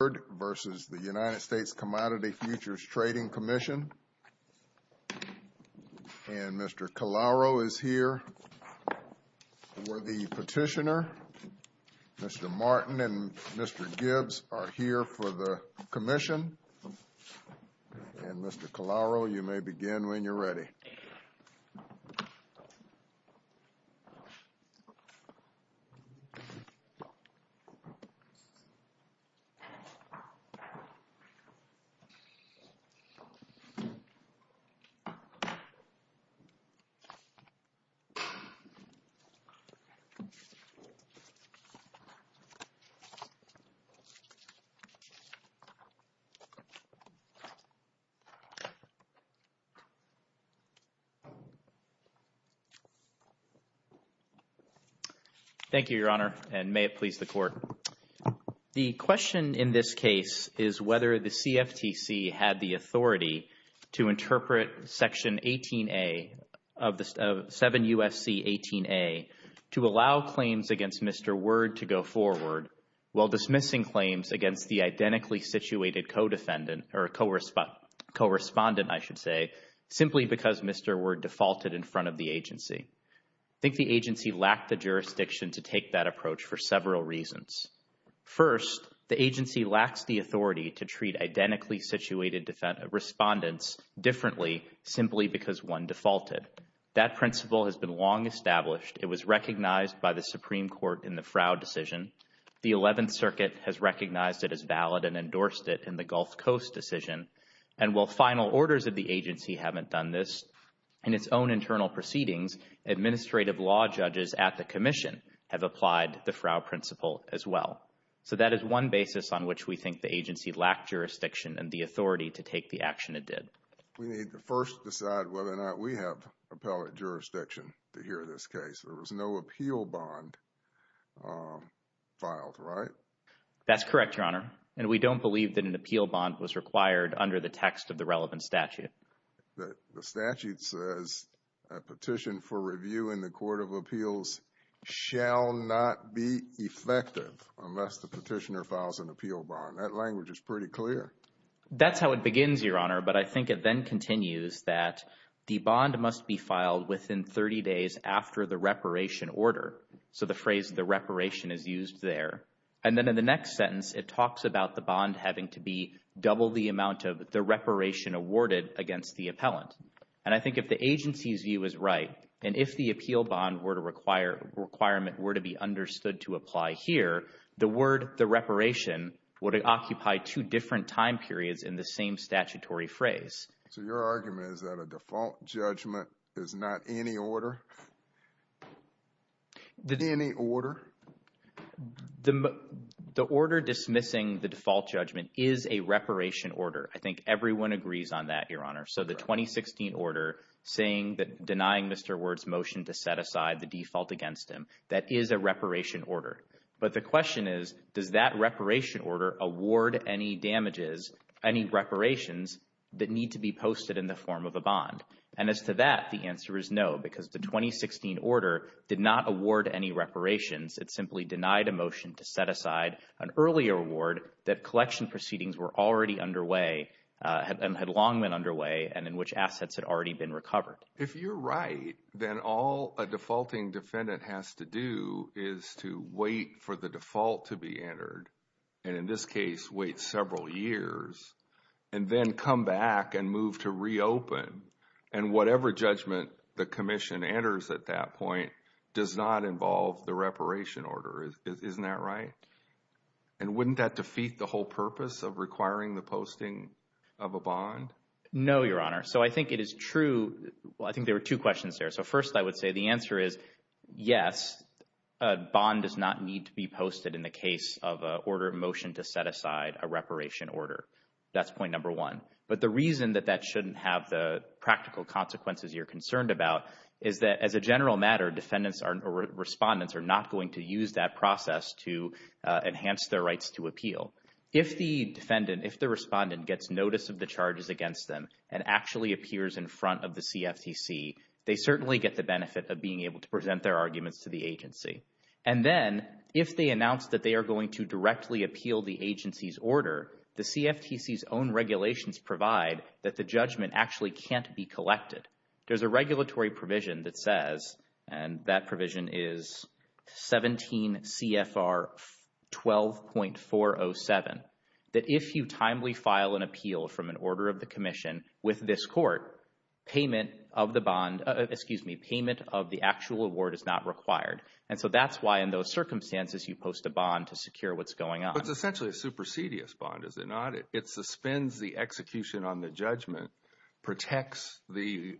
Commission, and Mr. Calauro is here for the petitioner. Mr. Martin and Mr. Gibbs are here for the commission, and Mr. Calauro, you may begin when you're ready. Thank you, Your Honor, and may it please the Court. The question in this case is whether the CFTC had the authority to interpret Section 18A of 7 U.S.C. 18A to allow claims against Mr. Word to go forward while dismissing claims against the identically-situated codefendant or correspondent, I should say, simply because Mr. Word defaulted in front of the agency. I think the agency lacked the jurisdiction to take that approach for several reasons. First, the agency lacks the authority to treat identically-situated respondents differently simply because one defaulted. That principle has been long established. It was recognized by the Supreme Court in the Frow decision. The 11th Circuit has recognized it as valid and endorsed it in the Gulf Coast decision. And while final orders of the agency haven't done this in its own internal proceedings, administrative law judges at the commission have applied the Frow principle as well. So that is one basis on which we think the agency lacked jurisdiction and the authority to take the action it did. We need to first decide whether or not we have appellate jurisdiction to hear this case. There was no appeal bond filed, right? That's correct, Your Honor. And we don't believe that an appeal bond was required under the text of the relevant statute. The statute says a petition for review in the Court of Appeals shall not be effective unless the petitioner files an appeal bond. That language is pretty clear. That's how it begins, Your Honor. But I think it then continues that the bond must be filed within 30 days after the reparation order. So the phrase, the reparation, is used there. And then in the next sentence, it talks about the bond having to be double the amount of the reparation awarded against the appellant. And I think if the agency's view is right and if the appeal bond were to require requirement were to be understood to apply here, the word the reparation would occupy two different time periods in the same statutory phrase. So your argument is that a default judgment is not any order? Any order? The order dismissing the default judgment is a reparation order. I think everyone agrees on that, Your Honor. So the 2016 order denying Mr. Ward's motion to set aside the default against him, that is a reparation order. But the question is, does that reparation order award any damages, any reparations that need to be posted in the form of a bond? And as to that, the answer is no, because the 2016 order did not award any reparations. It simply denied a motion to set aside an earlier award that collection proceedings were already underway and had long been underway and in which assets had already been recovered. If you're right, then all a defaulting defendant has to do is to wait for the default to be entered, and in this case, wait several years, and then come back and move to reopen. And whatever judgment the commission enters at that point does not involve the reparation order. Isn't that right? And wouldn't that defeat the whole purpose of requiring the posting of a bond? No, Your Honor. So I think it is true. I think there were two questions there. So first, I would say the answer is yes, a bond does not need to be posted in the case of an order of motion to set aside a reparation order. That's point number one. But the reason that that shouldn't have the practical consequences you're concerned about is that as a general matter, defendants or respondents are not going to use that process to enhance their rights to appeal. If the defendant, if the respondent gets notice of the charges against them and actually appears in front of the CFTC, they certainly get the benefit of being able to present their arguments to the agency. And then if they announce that they are going to directly appeal the agency's order, the CFTC's own regulations provide that the judgment actually can't be collected. There's a regulatory provision that says, and that provision is 17 CFR 12.407, that if you timely file an appeal from an order of the commission with this court, payment of the bond, excuse me, payment of the actual award is not required. And so that's why in those circumstances you post a bond to secure what's going on. It's essentially a supersedious bond, is it not? It suspends the execution on the judgment, protects the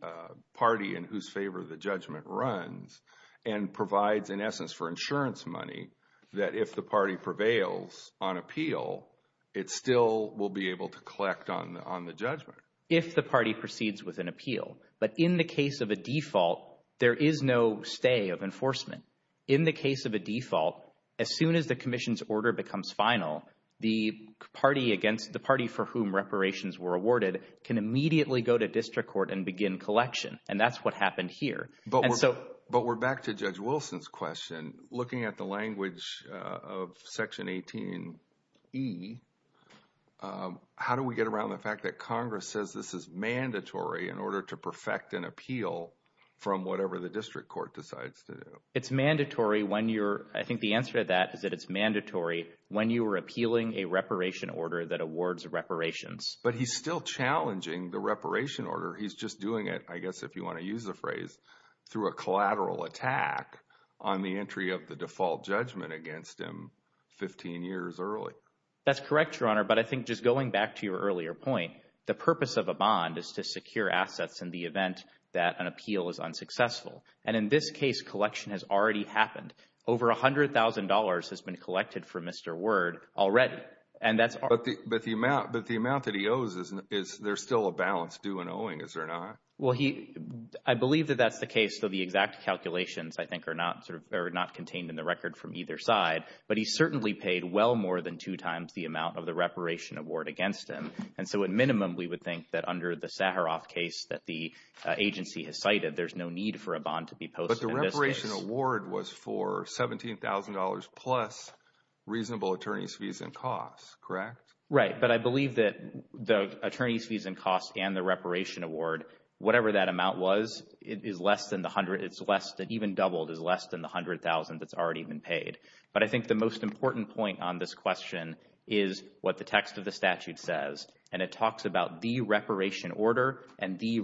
party in whose favor the judgment runs, and provides in essence for insurance money that if the party prevails on appeal, it still will be able to collect on the judgment. If the party proceeds with an appeal, but in the case of a default, there is no stay of enforcement. In the case of a default, as soon as the commission's order becomes final, the party for whom reparations were awarded can immediately go to district court and begin collection. And that's what happened here. But we're back to Judge Wilson's question. Looking at the language of Section 18e, how do we get around the fact that Congress says this is mandatory in order to perfect an appeal from whatever the district court decides to do? It's mandatory when you're, I think the answer to that is that it's mandatory when you were appealing a reparation order that awards reparations. But he's still challenging the reparation order. He's just doing it, I guess if you want to use the phrase, through a collateral attack on the entry of the default judgment against him 15 years early. That's correct, Your Honor. But I think just going back to your earlier point, the purpose of a bond is to secure assets in the event that an appeal is unsuccessful. And in this case, collection has already happened. Over $100,000 has been collected for Mr. Ward already. But the amount that he owes, there's still a balance due and owing, is there not? Well, I believe that that's the case, though the exact calculations, I think, are not contained in the record from either side. But he certainly paid well more than two times the amount of the reparation award against him. And so at minimum, we would think that under the Saharoff case that the agency has cited, there's no need for a bond to be posted. But the reparation award was for $17,000 plus reasonable attorney's fees and costs, correct? Right. But I believe that the attorney's fees and costs and the reparation award, whatever that amount was, is less than the hundred, it's less than, even doubled, is less than the $100,000 that's already been paid. But I think the most important point on this question is what the text of the statute says. And it talks about the reparation order and the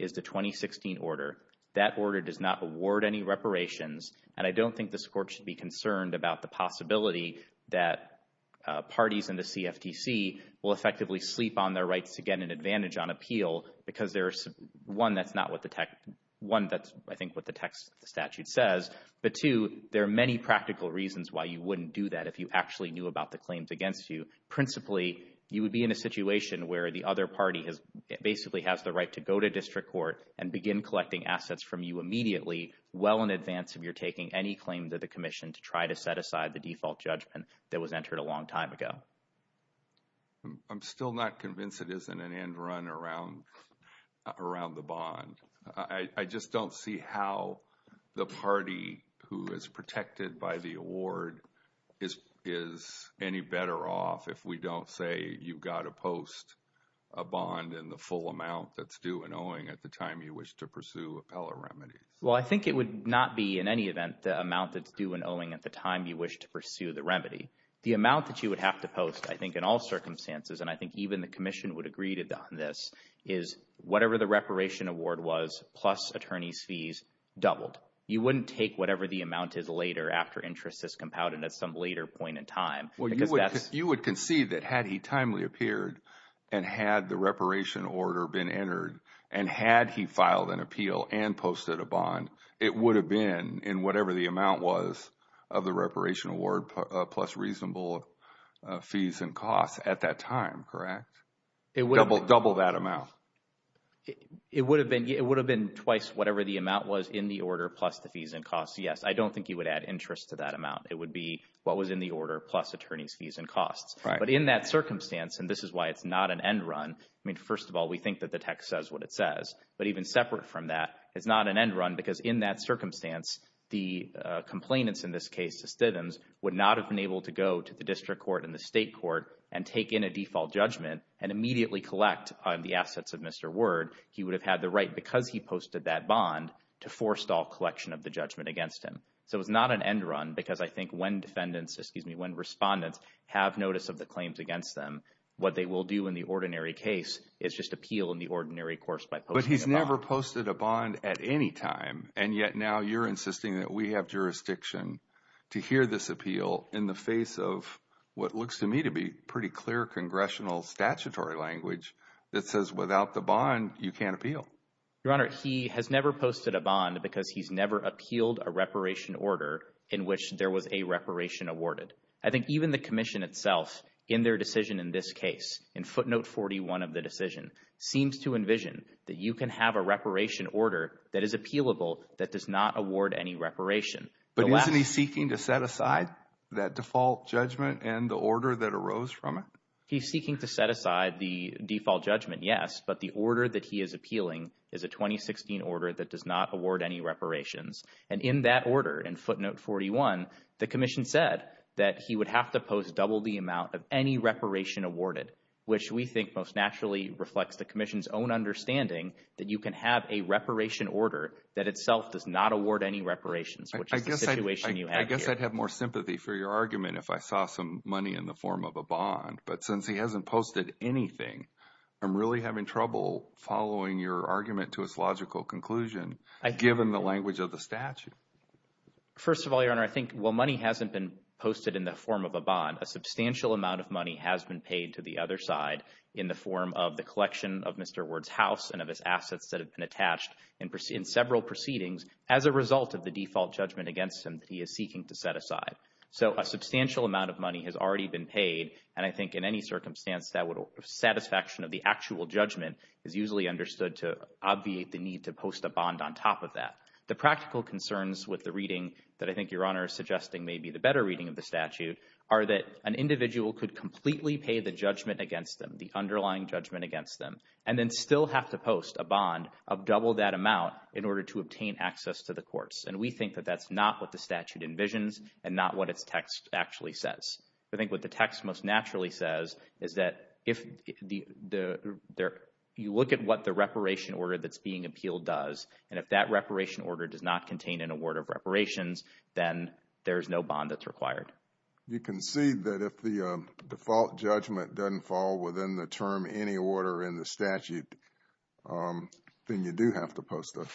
is the 2016 order. That order does not award any reparations. And I don't think this court should be concerned about the possibility that parties in the CFTC will effectively sleep on their rights to get an advantage on appeal because there's, one, that's not what the text, one, that's, I think, what the text of the statute says. But two, there are many practical reasons why you wouldn't do that if you actually knew about the claims against you. Principally, you would be in a situation where the other party basically has the right to go to district court and begin collecting assets from you immediately well in advance of your taking any claims at the commission to try to set aside the default judgment that was entered a long time ago. I'm still not convinced it isn't an end run around the bond. I just don't see how the if we don't say you've got to post a bond in the full amount that's due and owing at the time you wish to pursue appellate remedies. Well, I think it would not be in any event the amount that's due and owing at the time you wish to pursue the remedy. The amount that you would have to post, I think, in all circumstances, and I think even the commission would agree to this, is whatever the reparation award was plus attorney's fees doubled. You wouldn't take whatever the amount is later after interest is compounded at some later point in time. Well, you would concede that had he timely appeared and had the reparation order been entered and had he filed an appeal and posted a bond, it would have been in whatever the amount was of the reparation award plus reasonable fees and costs at that time, correct? Double that amount. It would have been twice whatever the amount was in the order plus the fees and costs, yes. I don't think you would add interest to that amount. It would be what was in the attorney's fees and costs. But in that circumstance, and this is why it's not an end run, I mean, first of all, we think that the text says what it says. But even separate from that, it's not an end run because in that circumstance, the complainants in this case, the Stiddhams, would not have been able to go to the district court and the state court and take in a default judgment and immediately collect the assets of Mr. Ward. He would have had the right because he posted that bond to forestall collection of the judgment against him. So it's not an when respondents have notice of the claims against them, what they will do in the ordinary case is just appeal in the ordinary course by posting a bond. But he's never posted a bond at any time. And yet now you're insisting that we have jurisdiction to hear this appeal in the face of what looks to me to be pretty clear congressional statutory language that says without the bond, you can't appeal. Your Honor, he has never posted a bond because he's never appealed a reparation order in which there was a reparation awarded. I think even the commission itself in their decision in this case, in footnote 41 of the decision, seems to envision that you can have a reparation order that is appealable that does not award any reparation. But isn't he seeking to set aside that default judgment and the order that arose from it? He's seeking to set aside the default judgment, yes, but the order that he is appealing is a 2016 order that does not award any reparations. And in that order, in footnote 41, the commission said that he would have to post double the amount of any reparation awarded, which we think most naturally reflects the commission's own understanding that you can have a reparation order that itself does not award any reparations, which is the situation you have here. I guess I'd have more sympathy for your argument if I saw some money in the form of a bond. But since he hasn't posted anything, I'm really having trouble following your argument to his logical conclusion, given the language of the statute. First of all, Your Honor, I think while money hasn't been posted in the form of a bond, a substantial amount of money has been paid to the other side in the form of the collection of Mr. Ward's house and of his assets that have been attached in several proceedings as a result of the default judgment against him that he is seeking to set aside. So a substantial amount of money has already been paid, and I think in any circumstance that satisfaction of the actual judgment is usually understood to obviate the need to post a bond on top of that. The practical concerns with the reading that I think Your Honor is suggesting may be the better reading of the statute are that an individual could completely pay the judgment against them, the underlying judgment against them, and then still have to post a bond of double that amount in order to obtain access to the courts. And we think that that's not what the statute envisions and not what its text actually says. I think what the text most naturally says is that if you look at what the reparation order that's being appealed does, and if that reparation order does not contain an award of reparations, then there's no bond that's required. You concede that if the default judgment doesn't fall within the term any order in the statute, then you do have to post a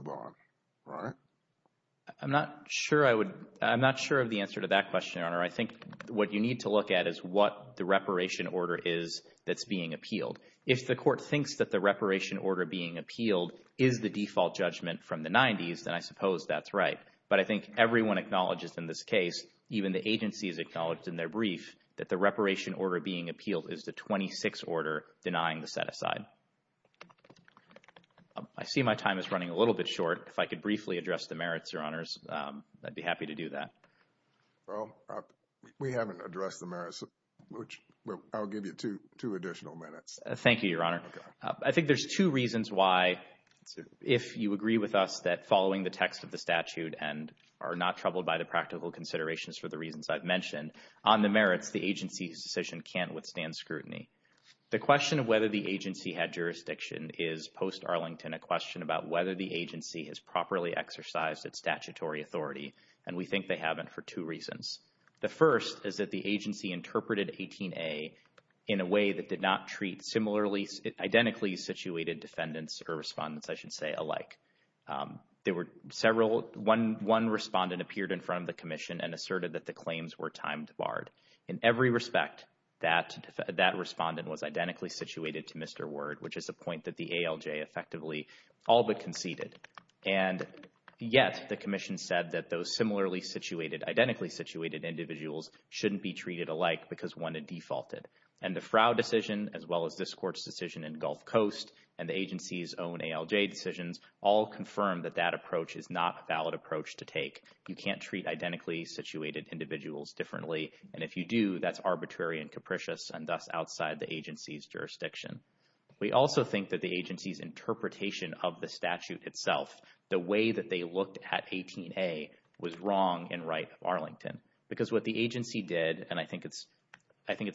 bond, right? I'm not sure I would, I'm not sure of the answer to that question, Your Honor. I think what you need to look at is what the reparation order is that's being appealed. If the court thinks that the reparation order being appealed is the default judgment from the 90s, then I suppose that's right. But I think everyone acknowledges in this case, even the agencies acknowledged in their brief that the reparation order being appealed is the 26 order denying the set-aside. I see my time is running a little bit short. If I could briefly address the merits, Your Honors, I'd be happy to do that. We haven't addressed the merits, which I'll give you two additional minutes. Thank you, Your Honor. I think there's two reasons why, if you agree with us that following the text of the statute and are not troubled by the practical considerations for the reasons I've mentioned, on the merits, the agency's decision can't withstand scrutiny. The question of whether the agency had jurisdiction is, post-Arlington, a question about whether the agency has properly exercised its statutory authority. And we think they haven't for two reasons. The first is that the agency interpreted 18A in a way that did not treat identically situated defendants or respondents, I should say, alike. One respondent appeared in front of the commission and asserted that the claims were time barred. In every respect, that respondent was identically situated to Mr. Ward, which is a point that the ALJ effectively all but conceded. And yet, the commission said that those similarly situated, identically situated individuals shouldn't be treated alike because one had defaulted. And the Frow decision, as well as this Court's decision in Gulf Coast, and the agency's own ALJ decisions, all confirm that that approach is not a valid approach to take. You can't treat identically situated individuals differently, and if you do, that's arbitrary and capricious and thus outside the agency's jurisdiction. We also think that the agency's interpretation of the statute itself, the way that they looked at 18A, was wrong and right of Arlington. Because what the agency did, and I think it's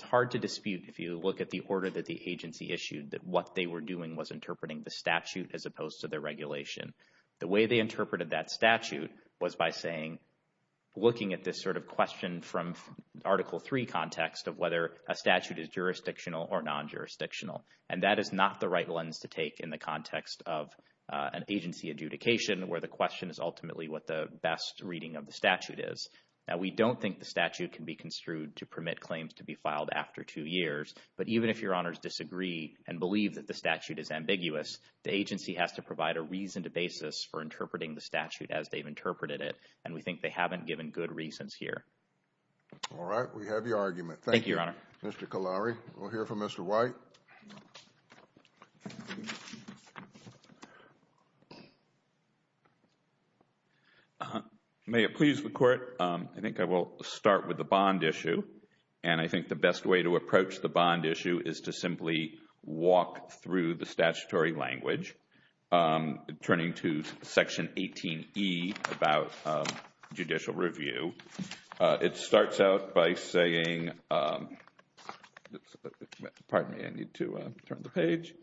hard to dispute if you look at the order that the agency issued, that what they were doing was interpreting the statute as opposed to the regulation. The way they interpreted that statute was by saying, looking at this sort of question from Article III context of whether a statute is jurisdictional or non-jurisdictional. And that is not the right lens to take in the context of an agency adjudication where the question is ultimately what the best reading of the statute is. We don't think the statute can be construed to permit claims to be filed after two years, but even if your honors disagree and believe that the statute is ambiguous, the agency has to provide a reasoned basis for interpreting the statute as they've interpreted it. And we think they haven't given good reasons here. All right. We have your argument. Thank you, Your Honor. Mr. Kolari, we'll hear from Mr. White. May it please the Court, I think I will start with the bond issue. And I think the best way to approach the bond issue is to simply walk through the statutory language turning to Section 18E about judicial review. It starts out by saying, pardon me, I need to turn the page,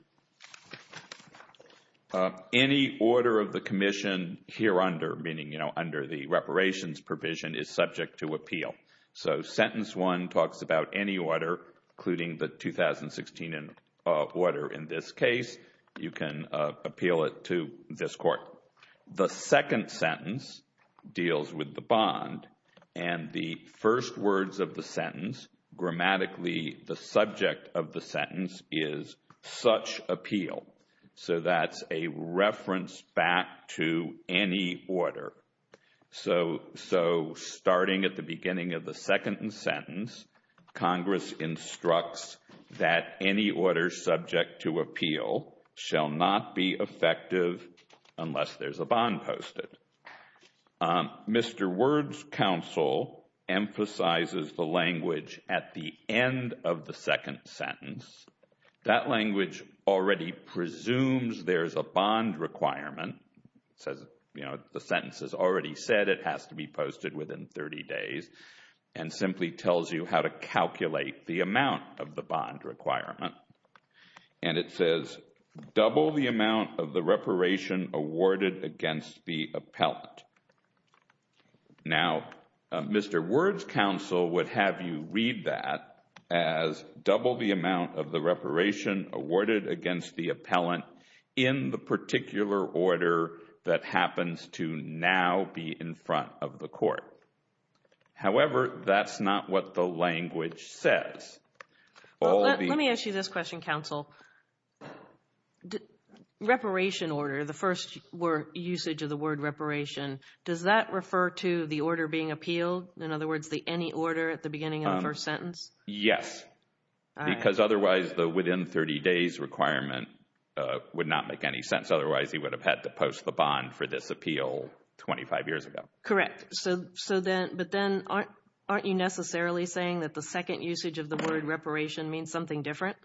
any order of the commission here under, meaning, you know, under the reparations provision is subject to appeal. So, sentence one talks about any order, including the 2016 order in this case. You can appeal it to this Court. The second sentence deals with the bond, and the first words of the sentence, grammatically, the subject of the sentence is such appeal. So that's a reference back to any order. So, starting at the beginning of the second sentence, Congress instructs that any order subject to appeal shall not be effective unless there's a bond posted. Mr. Ward's counsel emphasizes the language at the end of the second sentence. That language already presumes there's a bond requirement, says, you know, the sentence has already said it has to be posted within 30 days, and simply tells you how to calculate the amount of the bond requirement. And it says, double the amount of the reparation awarded against the appellant. Now, Mr. Ward's counsel would have you read that as double the amount of the reparation awarded against the appellant in the particular order that happens to now be in front of the Court. However, that's not what the language says. So, reparation order, the first usage of the word reparation, does that refer to the order being appealed? In other words, the any order at the beginning of the first sentence? Yes. Because otherwise, the within 30 days requirement would not make any sense. Otherwise, he would have had to post the bond for this appeal 25 years ago. Correct. So, but then, aren't you necessarily saying that the second usage of the word reparation means something different?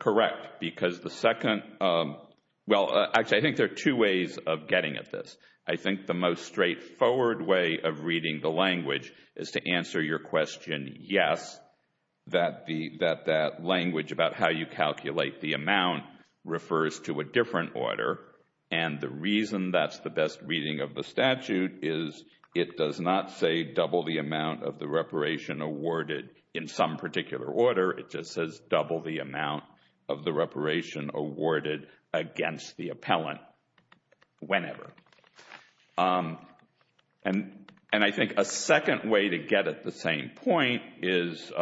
Correct. Because the second, well, actually, I think there are two ways of getting at this. I think the most straightforward way of reading the language is to answer your question, yes, that that language about how you calculate the amount refers to a different order. And the reason that's the best reading of the statute is it does not say double the amount of the reparation awarded in some particular order. It just says double the amount of the reparation awarded against the appellant whenever. And I think a second way to get at the same point is,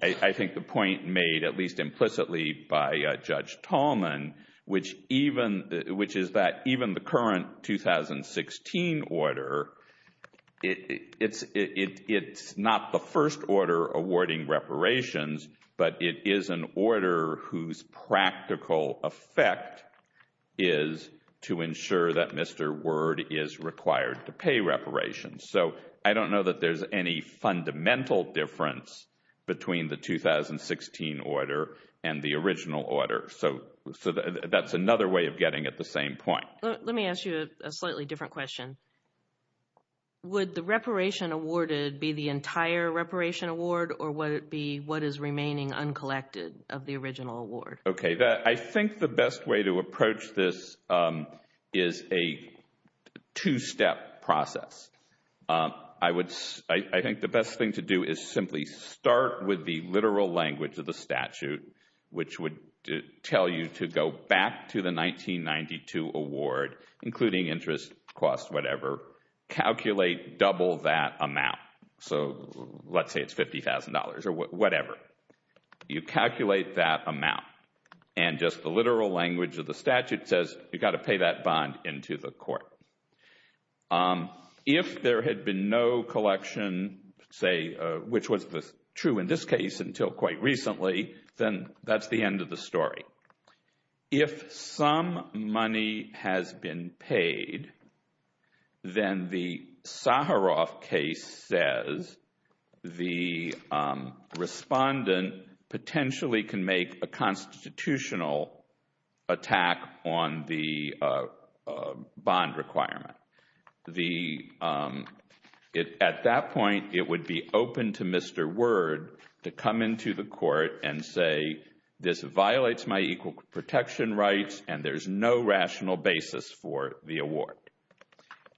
I think the point made at least implicitly by Judge Tallman, which even, which is that even the current 2016 order, it's not the first order awarding reparations, but it is an order whose practical effect is to ensure that Mr. Word is required to pay reparations. So I don't know that there's any fundamental difference between the 2016 order and the original order. So that's another way of getting at the same point. Let me ask you a slightly different question. Would the reparation awarded be the entire reparation award or would it be what is remaining uncollected of the original award? Okay, I think the best way to approach this is a two-step process. I would, I think the best thing to do is simply start with the literal language of the statute, which would tell you to go back to the 1992 award, including interest, cost, whatever, calculate double that amount. So let's say it's $50,000 or whatever. You calculate that amount and just the literal language of the statute says you've got to pay that bond into the court. If there had been no collection, say, which was true in this case until quite recently, then that's the end of the story. If some money has been paid, then the Saharoff case says the respondent potentially can make a constitutional attack on the bond requirement. At that point, it would be open to Mr. Word to come into the court and say this violates my equal protection rights and there's no rational basis for the award.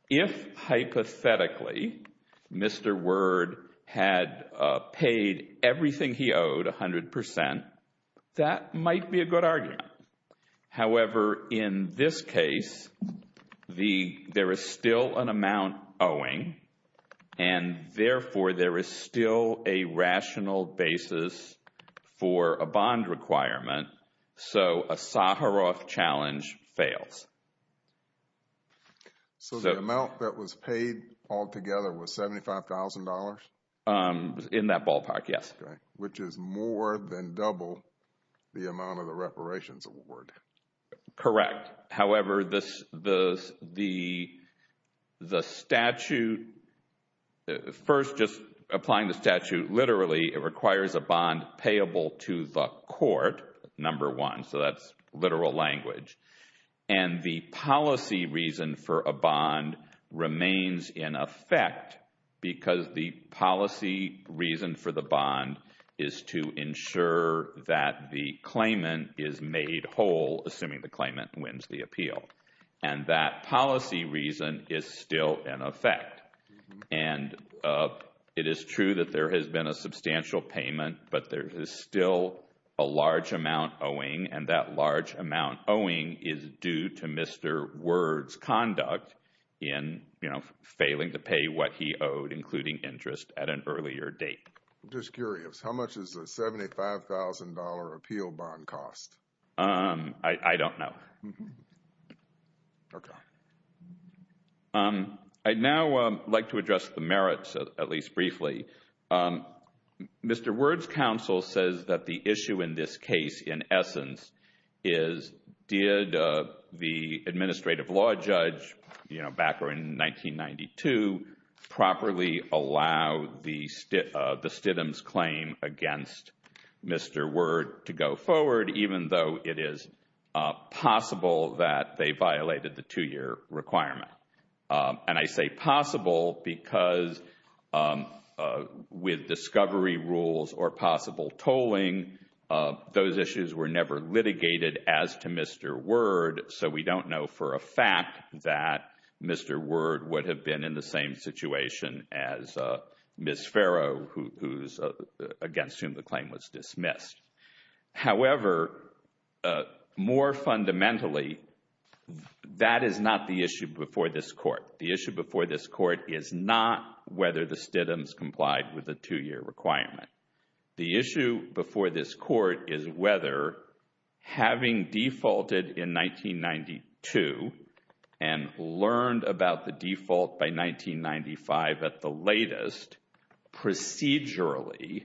If, hypothetically, Mr. Word had paid everything he owed, 100%, that might be a good argument. However, in this case, there is still an amount owing and therefore there is still a rational basis for a bond requirement, so a Saharoff challenge fails. So the amount that was paid altogether was $75,000? In that ballpark, yes. Which is more than double the amount of the reparations award. Correct. However, the statute, first just applying the statute literally, it requires a bond payable to the court, number one, so that's literal language. And the policy reason for a bond remains in effect because the policy reason for the bond is to ensure that the claimant is made whole, assuming the claimant wins the appeal. And that policy reason is still in effect. And it is true that there has been a substantial payment, but there is still a large amount owing is due to Mr. Word's conduct in failing to pay what he owed, including interest, at an earlier date. I'm just curious, how much is a $75,000 appeal bond cost? I don't know. Okay. I'd now like to address the merits, at least briefly. Mr. Word's counsel says that the issue in this case, in essence, is did the administrative law judge, you know, back in 1992, properly allow the Stidham's claim against Mr. Word to go forward, even though it is possible that they violated the two-year requirement? And I say possible because with discovery rules or possible tolling, those issues were never litigated as to Mr. Word, so we don't know for a fact that Mr. Word would have been in the same situation as Ms. Farrow, against whom the claim was dismissed. However, more fundamentally, that is not the issue before this Court. The issue before this Court is not whether the Stidham's complied with the two-year requirement. The issue before this Court is whether, having defaulted in 1992 and learned about the default by 1995 at the latest, procedurally,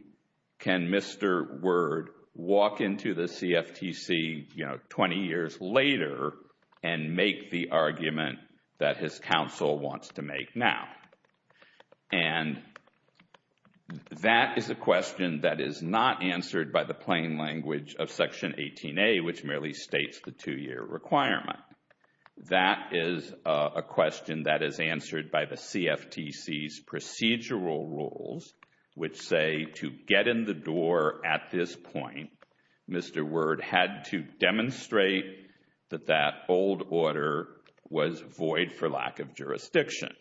can Mr. Word walk into the CFTC, you know, 20 years later and make the argument that his counsel wants to make now? And that is a question that is not answered by the plain language of Section 18A, which merely states the two-year requirement. That is a question that is answered by the CFTC's procedural rules, which say to get in the door at this point, Mr. Word had to demonstrate that that old order was void for lack of jurisdiction.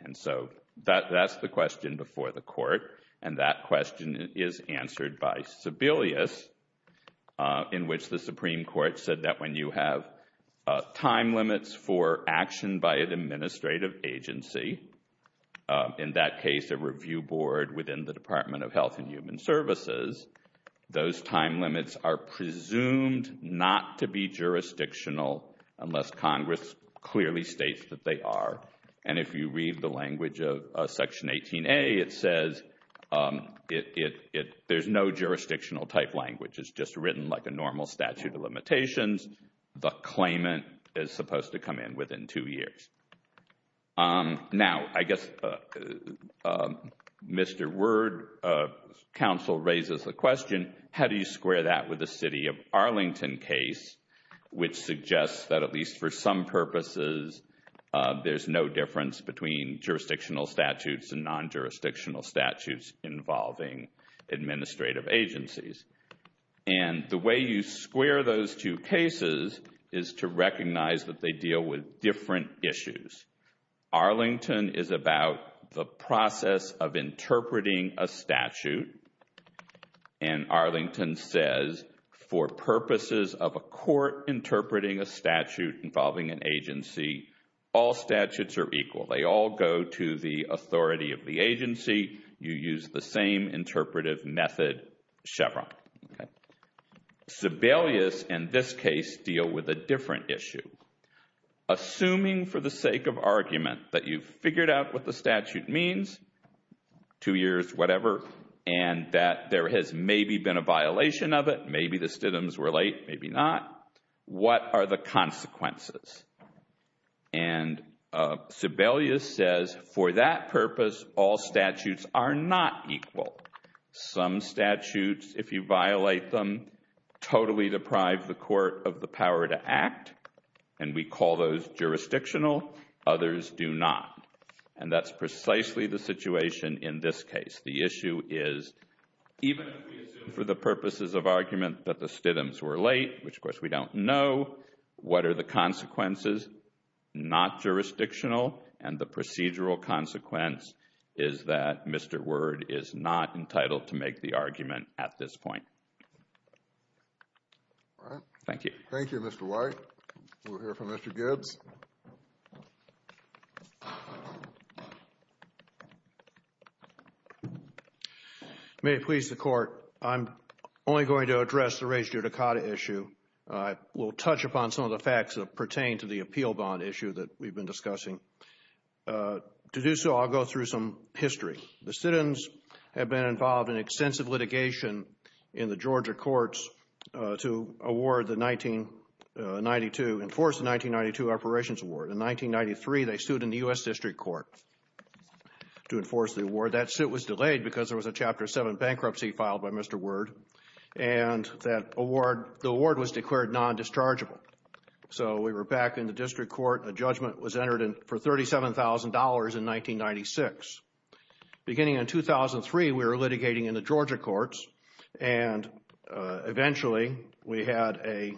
And so that's the question before the Court, and that question is answered by Sebelius, in which the Supreme Court said that when you have time limits for action by an administrative agency, in that case a review board within the Department of Health and Human Services, those time limits are presumed not to be jurisdictional unless Congress clearly states that they are. And if you read the language of Section 18A, it says there's no jurisdictional type language. It's just written like a normal statute of limitations. The claimant is supposed to come in within two years. Now, I guess Mr. Word's counsel raises the question, how do you square that with the no difference between jurisdictional statutes and non-jurisdictional statutes involving administrative agencies? And the way you square those two cases is to recognize that they deal with different issues. Arlington is about the process of interpreting a statute, and Arlington says for purposes of a court interpreting a statute involving an agency, all statutes are equal. They all go to the authority of the agency. You use the same interpretive method, Chevron. Sebelius, in this case, deal with a different issue. Assuming for the sake of argument that you've figured out what the statute means, two years, whatever, and that there has maybe been a violation of it, maybe the stigmas were late, maybe not, what are the consequences? And Sebelius says, for that purpose, all statutes are not equal. Some statutes, if you violate them, totally deprive the court of the power to act, and we call those jurisdictional, others do not. And that's precisely the situation in this case. The issue is, even if we assume for the purposes of argument that the stigmas were late, which of course we don't know, what are the consequences? Not jurisdictional, and the procedural consequence is that Mr. Word is not entitled to make the argument at this point. All right. Thank you. Thank you, Mr. White. We'll hear from Mr. Gibbs. May it please the Court, I'm only going to address the race judicata issue. I will touch upon some of the facts that pertain to the appeal bond issue that we've been discussing. To do so, I'll go through some history. The citizens have been involved in extensive litigation in the Georgia courts to award the 1992, enforce the 1992 operations award. In 1993, they sued in the U.S. District Court to enforce the award. That suit was delayed because there was a Chapter 7 bankruptcy filed by Mr. Word, and that award, the award was declared non-dischargeable. So we were back in the District Court, a judgment was entered for $37,000 in 1996. Beginning in 2003, we were litigating in the Georgia courts, and eventually, we had a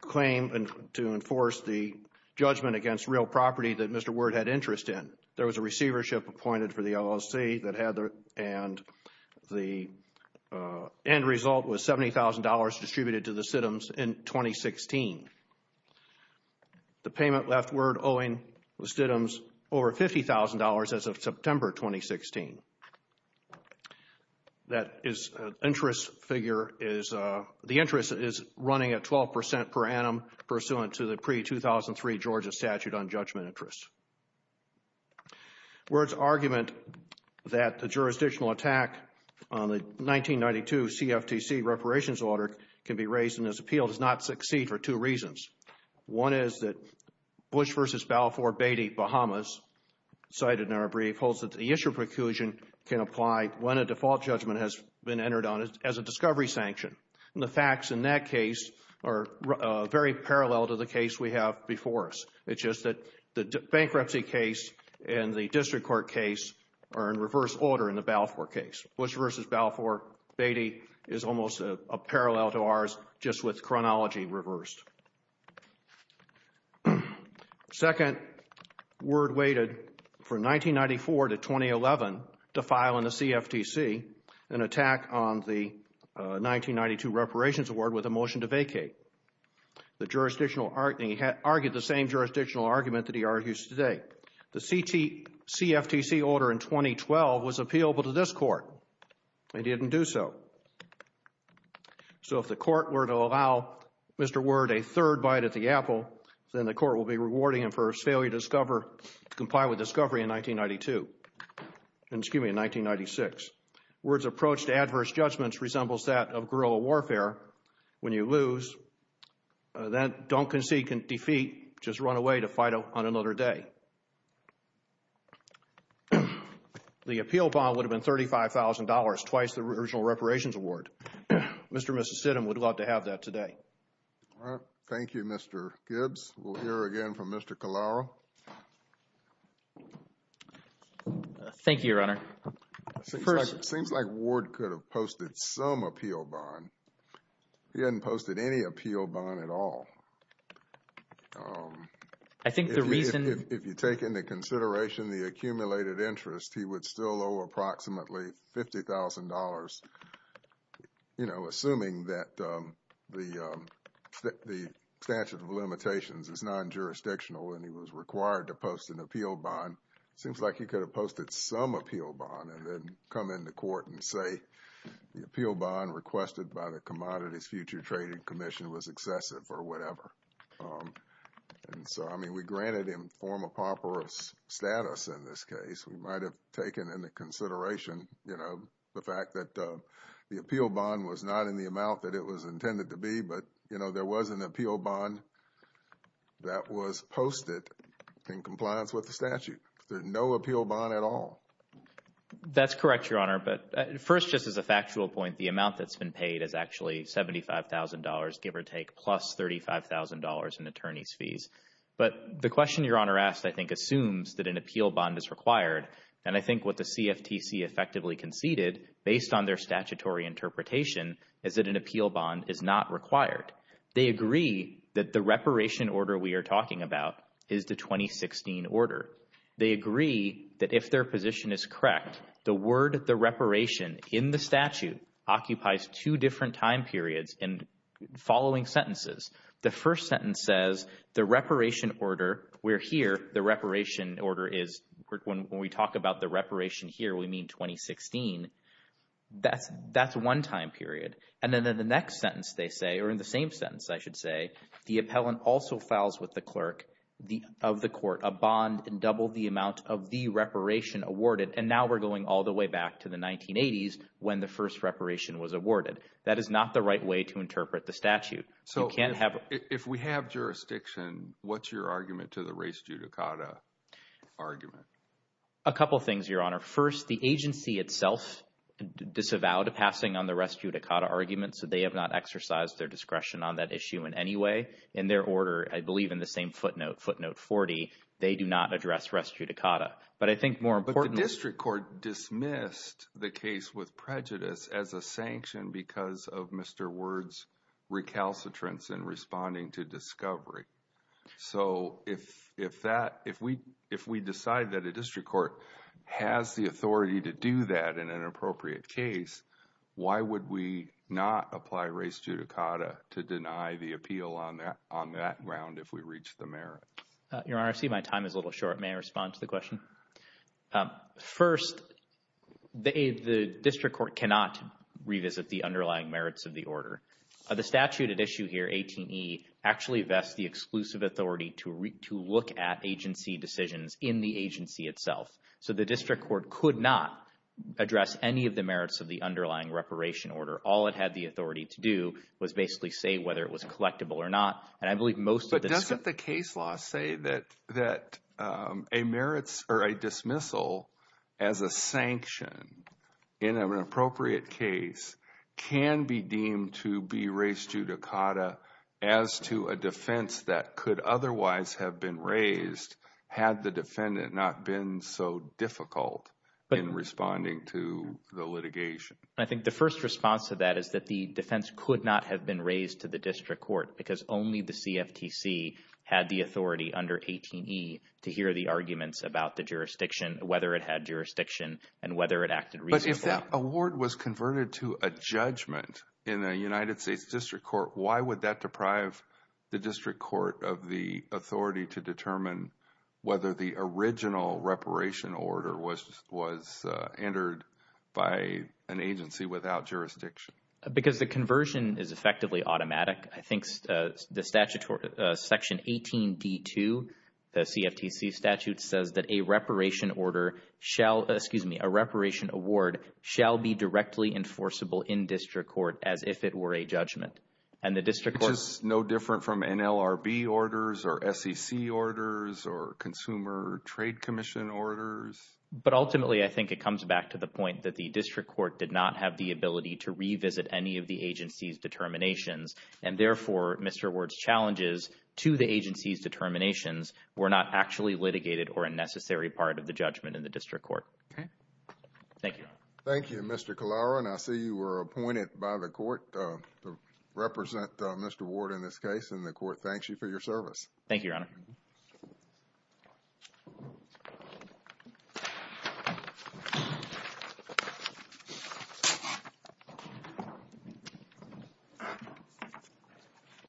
claim to enforce the judgment against real property that Mr. Word had interest in. There was a receivership appointed for the LLC that had the end result was $70,000 distributed to the Stidhams in 2016. The payment left Word owing the Stidhams over $50,000 as of September 2016. That interest figure is, the interest is running at 12% per annum pursuant to the pre-2003 Georgia statute on judgment interest. Word's argument that the jurisdictional attack on the 1992 CFTC reparations order can be based on two reasons. One is that Bush v. Balfour, Beatty, Bahamas, cited in our brief, holds that the issue preclusion can apply when a default judgment has been entered on as a discovery sanction. The facts in that case are very parallel to the case we have before us. It's just that the bankruptcy case and the District Court case are in reverse order in the Balfour case. Bush v. Balfour, Beatty is almost a parallel to ours just with chronology reversed. Second, Word waited from 1994 to 2011 to file in the CFTC an attack on the 1992 reparations award with a motion to vacate. The jurisdictional, he argued the same jurisdictional argument that he argues today. The CFTC order in 2012 was appealable to this court. They didn't do so. So if the court were to allow Mr. Word a third bite at the apple, then the court will be rewarding him for his failure to comply with discovery in 1992, excuse me, in 1996. Word's approach to adverse judgments resembles that of guerrilla warfare. When you lose, don't concede defeat, just run away to fight on another day. The appeal bond would have been $35,000, twice the original reparations award. Mr. and Mrs. Sidham would love to have that today. Thank you, Mr. Gibbs. We'll hear again from Mr. Calaro. Thank you, Your Honor. First, it seems like Word could have posted some appeal bond. He hadn't posted any appeal bond at all. I think the reason... If you take into consideration the accumulated interest, he would still owe approximately $50,000, you know, assuming that the statute of limitations is non-jurisdictional and he was required to post an appeal bond. It seems like he could have posted some appeal bond and then come into court and say the appeal bond requested by the Commodities Future Trading Commission was excessive or whatever. And so, I mean, we granted him form of proper status in this case. We might have taken into consideration, you know, the fact that the appeal bond was not in the amount that it was intended to be, but, you know, there was an appeal bond that was posted in compliance with the statute. There's no appeal bond at all. That's correct, Your Honor. But first, just as a factual point, the amount that's been paid is actually $75,000, give or take, plus $35,000 in attorney's fees. But the question Your Honor asked, I think, assumes that an appeal bond is required. And I think what the CFTC effectively conceded, based on their statutory interpretation, is that an appeal bond is not required. They agree that the reparation order we are talking about is the 2016 order. They agree that if their position is correct, the word, the reparation, in the statute occupies two different time periods in following sentences. The first sentence says, the reparation order, where here the reparation order is, when we talk about the reparation here, we mean 2016, that's one time period. And then in the next sentence, they say, or in the same sentence, I should say, the appellant also files with the clerk of the court a bond in double the amount of the reparation awarded. And now we're going all the way back to the 1980s when the first reparation was awarded. That is not the right way to interpret the statute. So you can't have- If we have jurisdiction, what's your argument to the res judicata argument? A couple of things, Your Honor. First, the agency itself disavowed a passing on the res judicata argument, so they have not exercised their discretion on that issue in any way. In their order, I believe in the same footnote, footnote 40, they do not address res judicata. But I think more importantly- But the district court dismissed the case with prejudice as a sanction because of Mr. Word's recalcitrance in responding to discovery. So if that, if we decide that a district court has the authority to do that in an appropriate case, why would we not apply res judicata to deny the appeal on that ground if we reach the merit? Your Honor, I see my time is a little short. May I respond to the question? First, the district court cannot revisit the underlying merits of the order. The statute at issue here, 18E, actually vests the exclusive authority to look at agency decisions in the agency itself. So the district court could not address any of the merits of the underlying reparation order. All it had the authority to do was basically say whether it was collectible or not. And I believe most of the- But doesn't the case law say that a merits or a dismissal as a sanction in an appropriate case can be deemed to be res judicata as to a defense that could otherwise have been raised had the defendant not been so difficult in responding to the litigation? I think the first response to that is that the defense could not have been raised to the district court because only the CFTC had the authority under 18E to hear the arguments about the jurisdiction, whether it had jurisdiction, and whether it acted reasonably. If that award was converted to a judgment in a United States district court, why would that deprive the district court of the authority to determine whether the original reparation order was entered by an agency without jurisdiction? Because the conversion is effectively automatic. I think the statute, Section 18D2, the CFTC statute, says that a reparation order shall- shall be directly enforceable in district court as if it were a judgment. And the district court- Which is no different from NLRB orders or SEC orders or Consumer Trade Commission orders? But ultimately, I think it comes back to the point that the district court did not have the ability to revisit any of the agency's determinations. And therefore, Mr. Ward's challenges to the agency's determinations were not actually litigated or a necessary part of the judgment in the district court. Okay. Thank you, Your Honor. Thank you, Mr. Kallara. And I see you were appointed by the court to represent Mr. Ward in this case, and the court thanks you for your service. Thank you, Your Honor.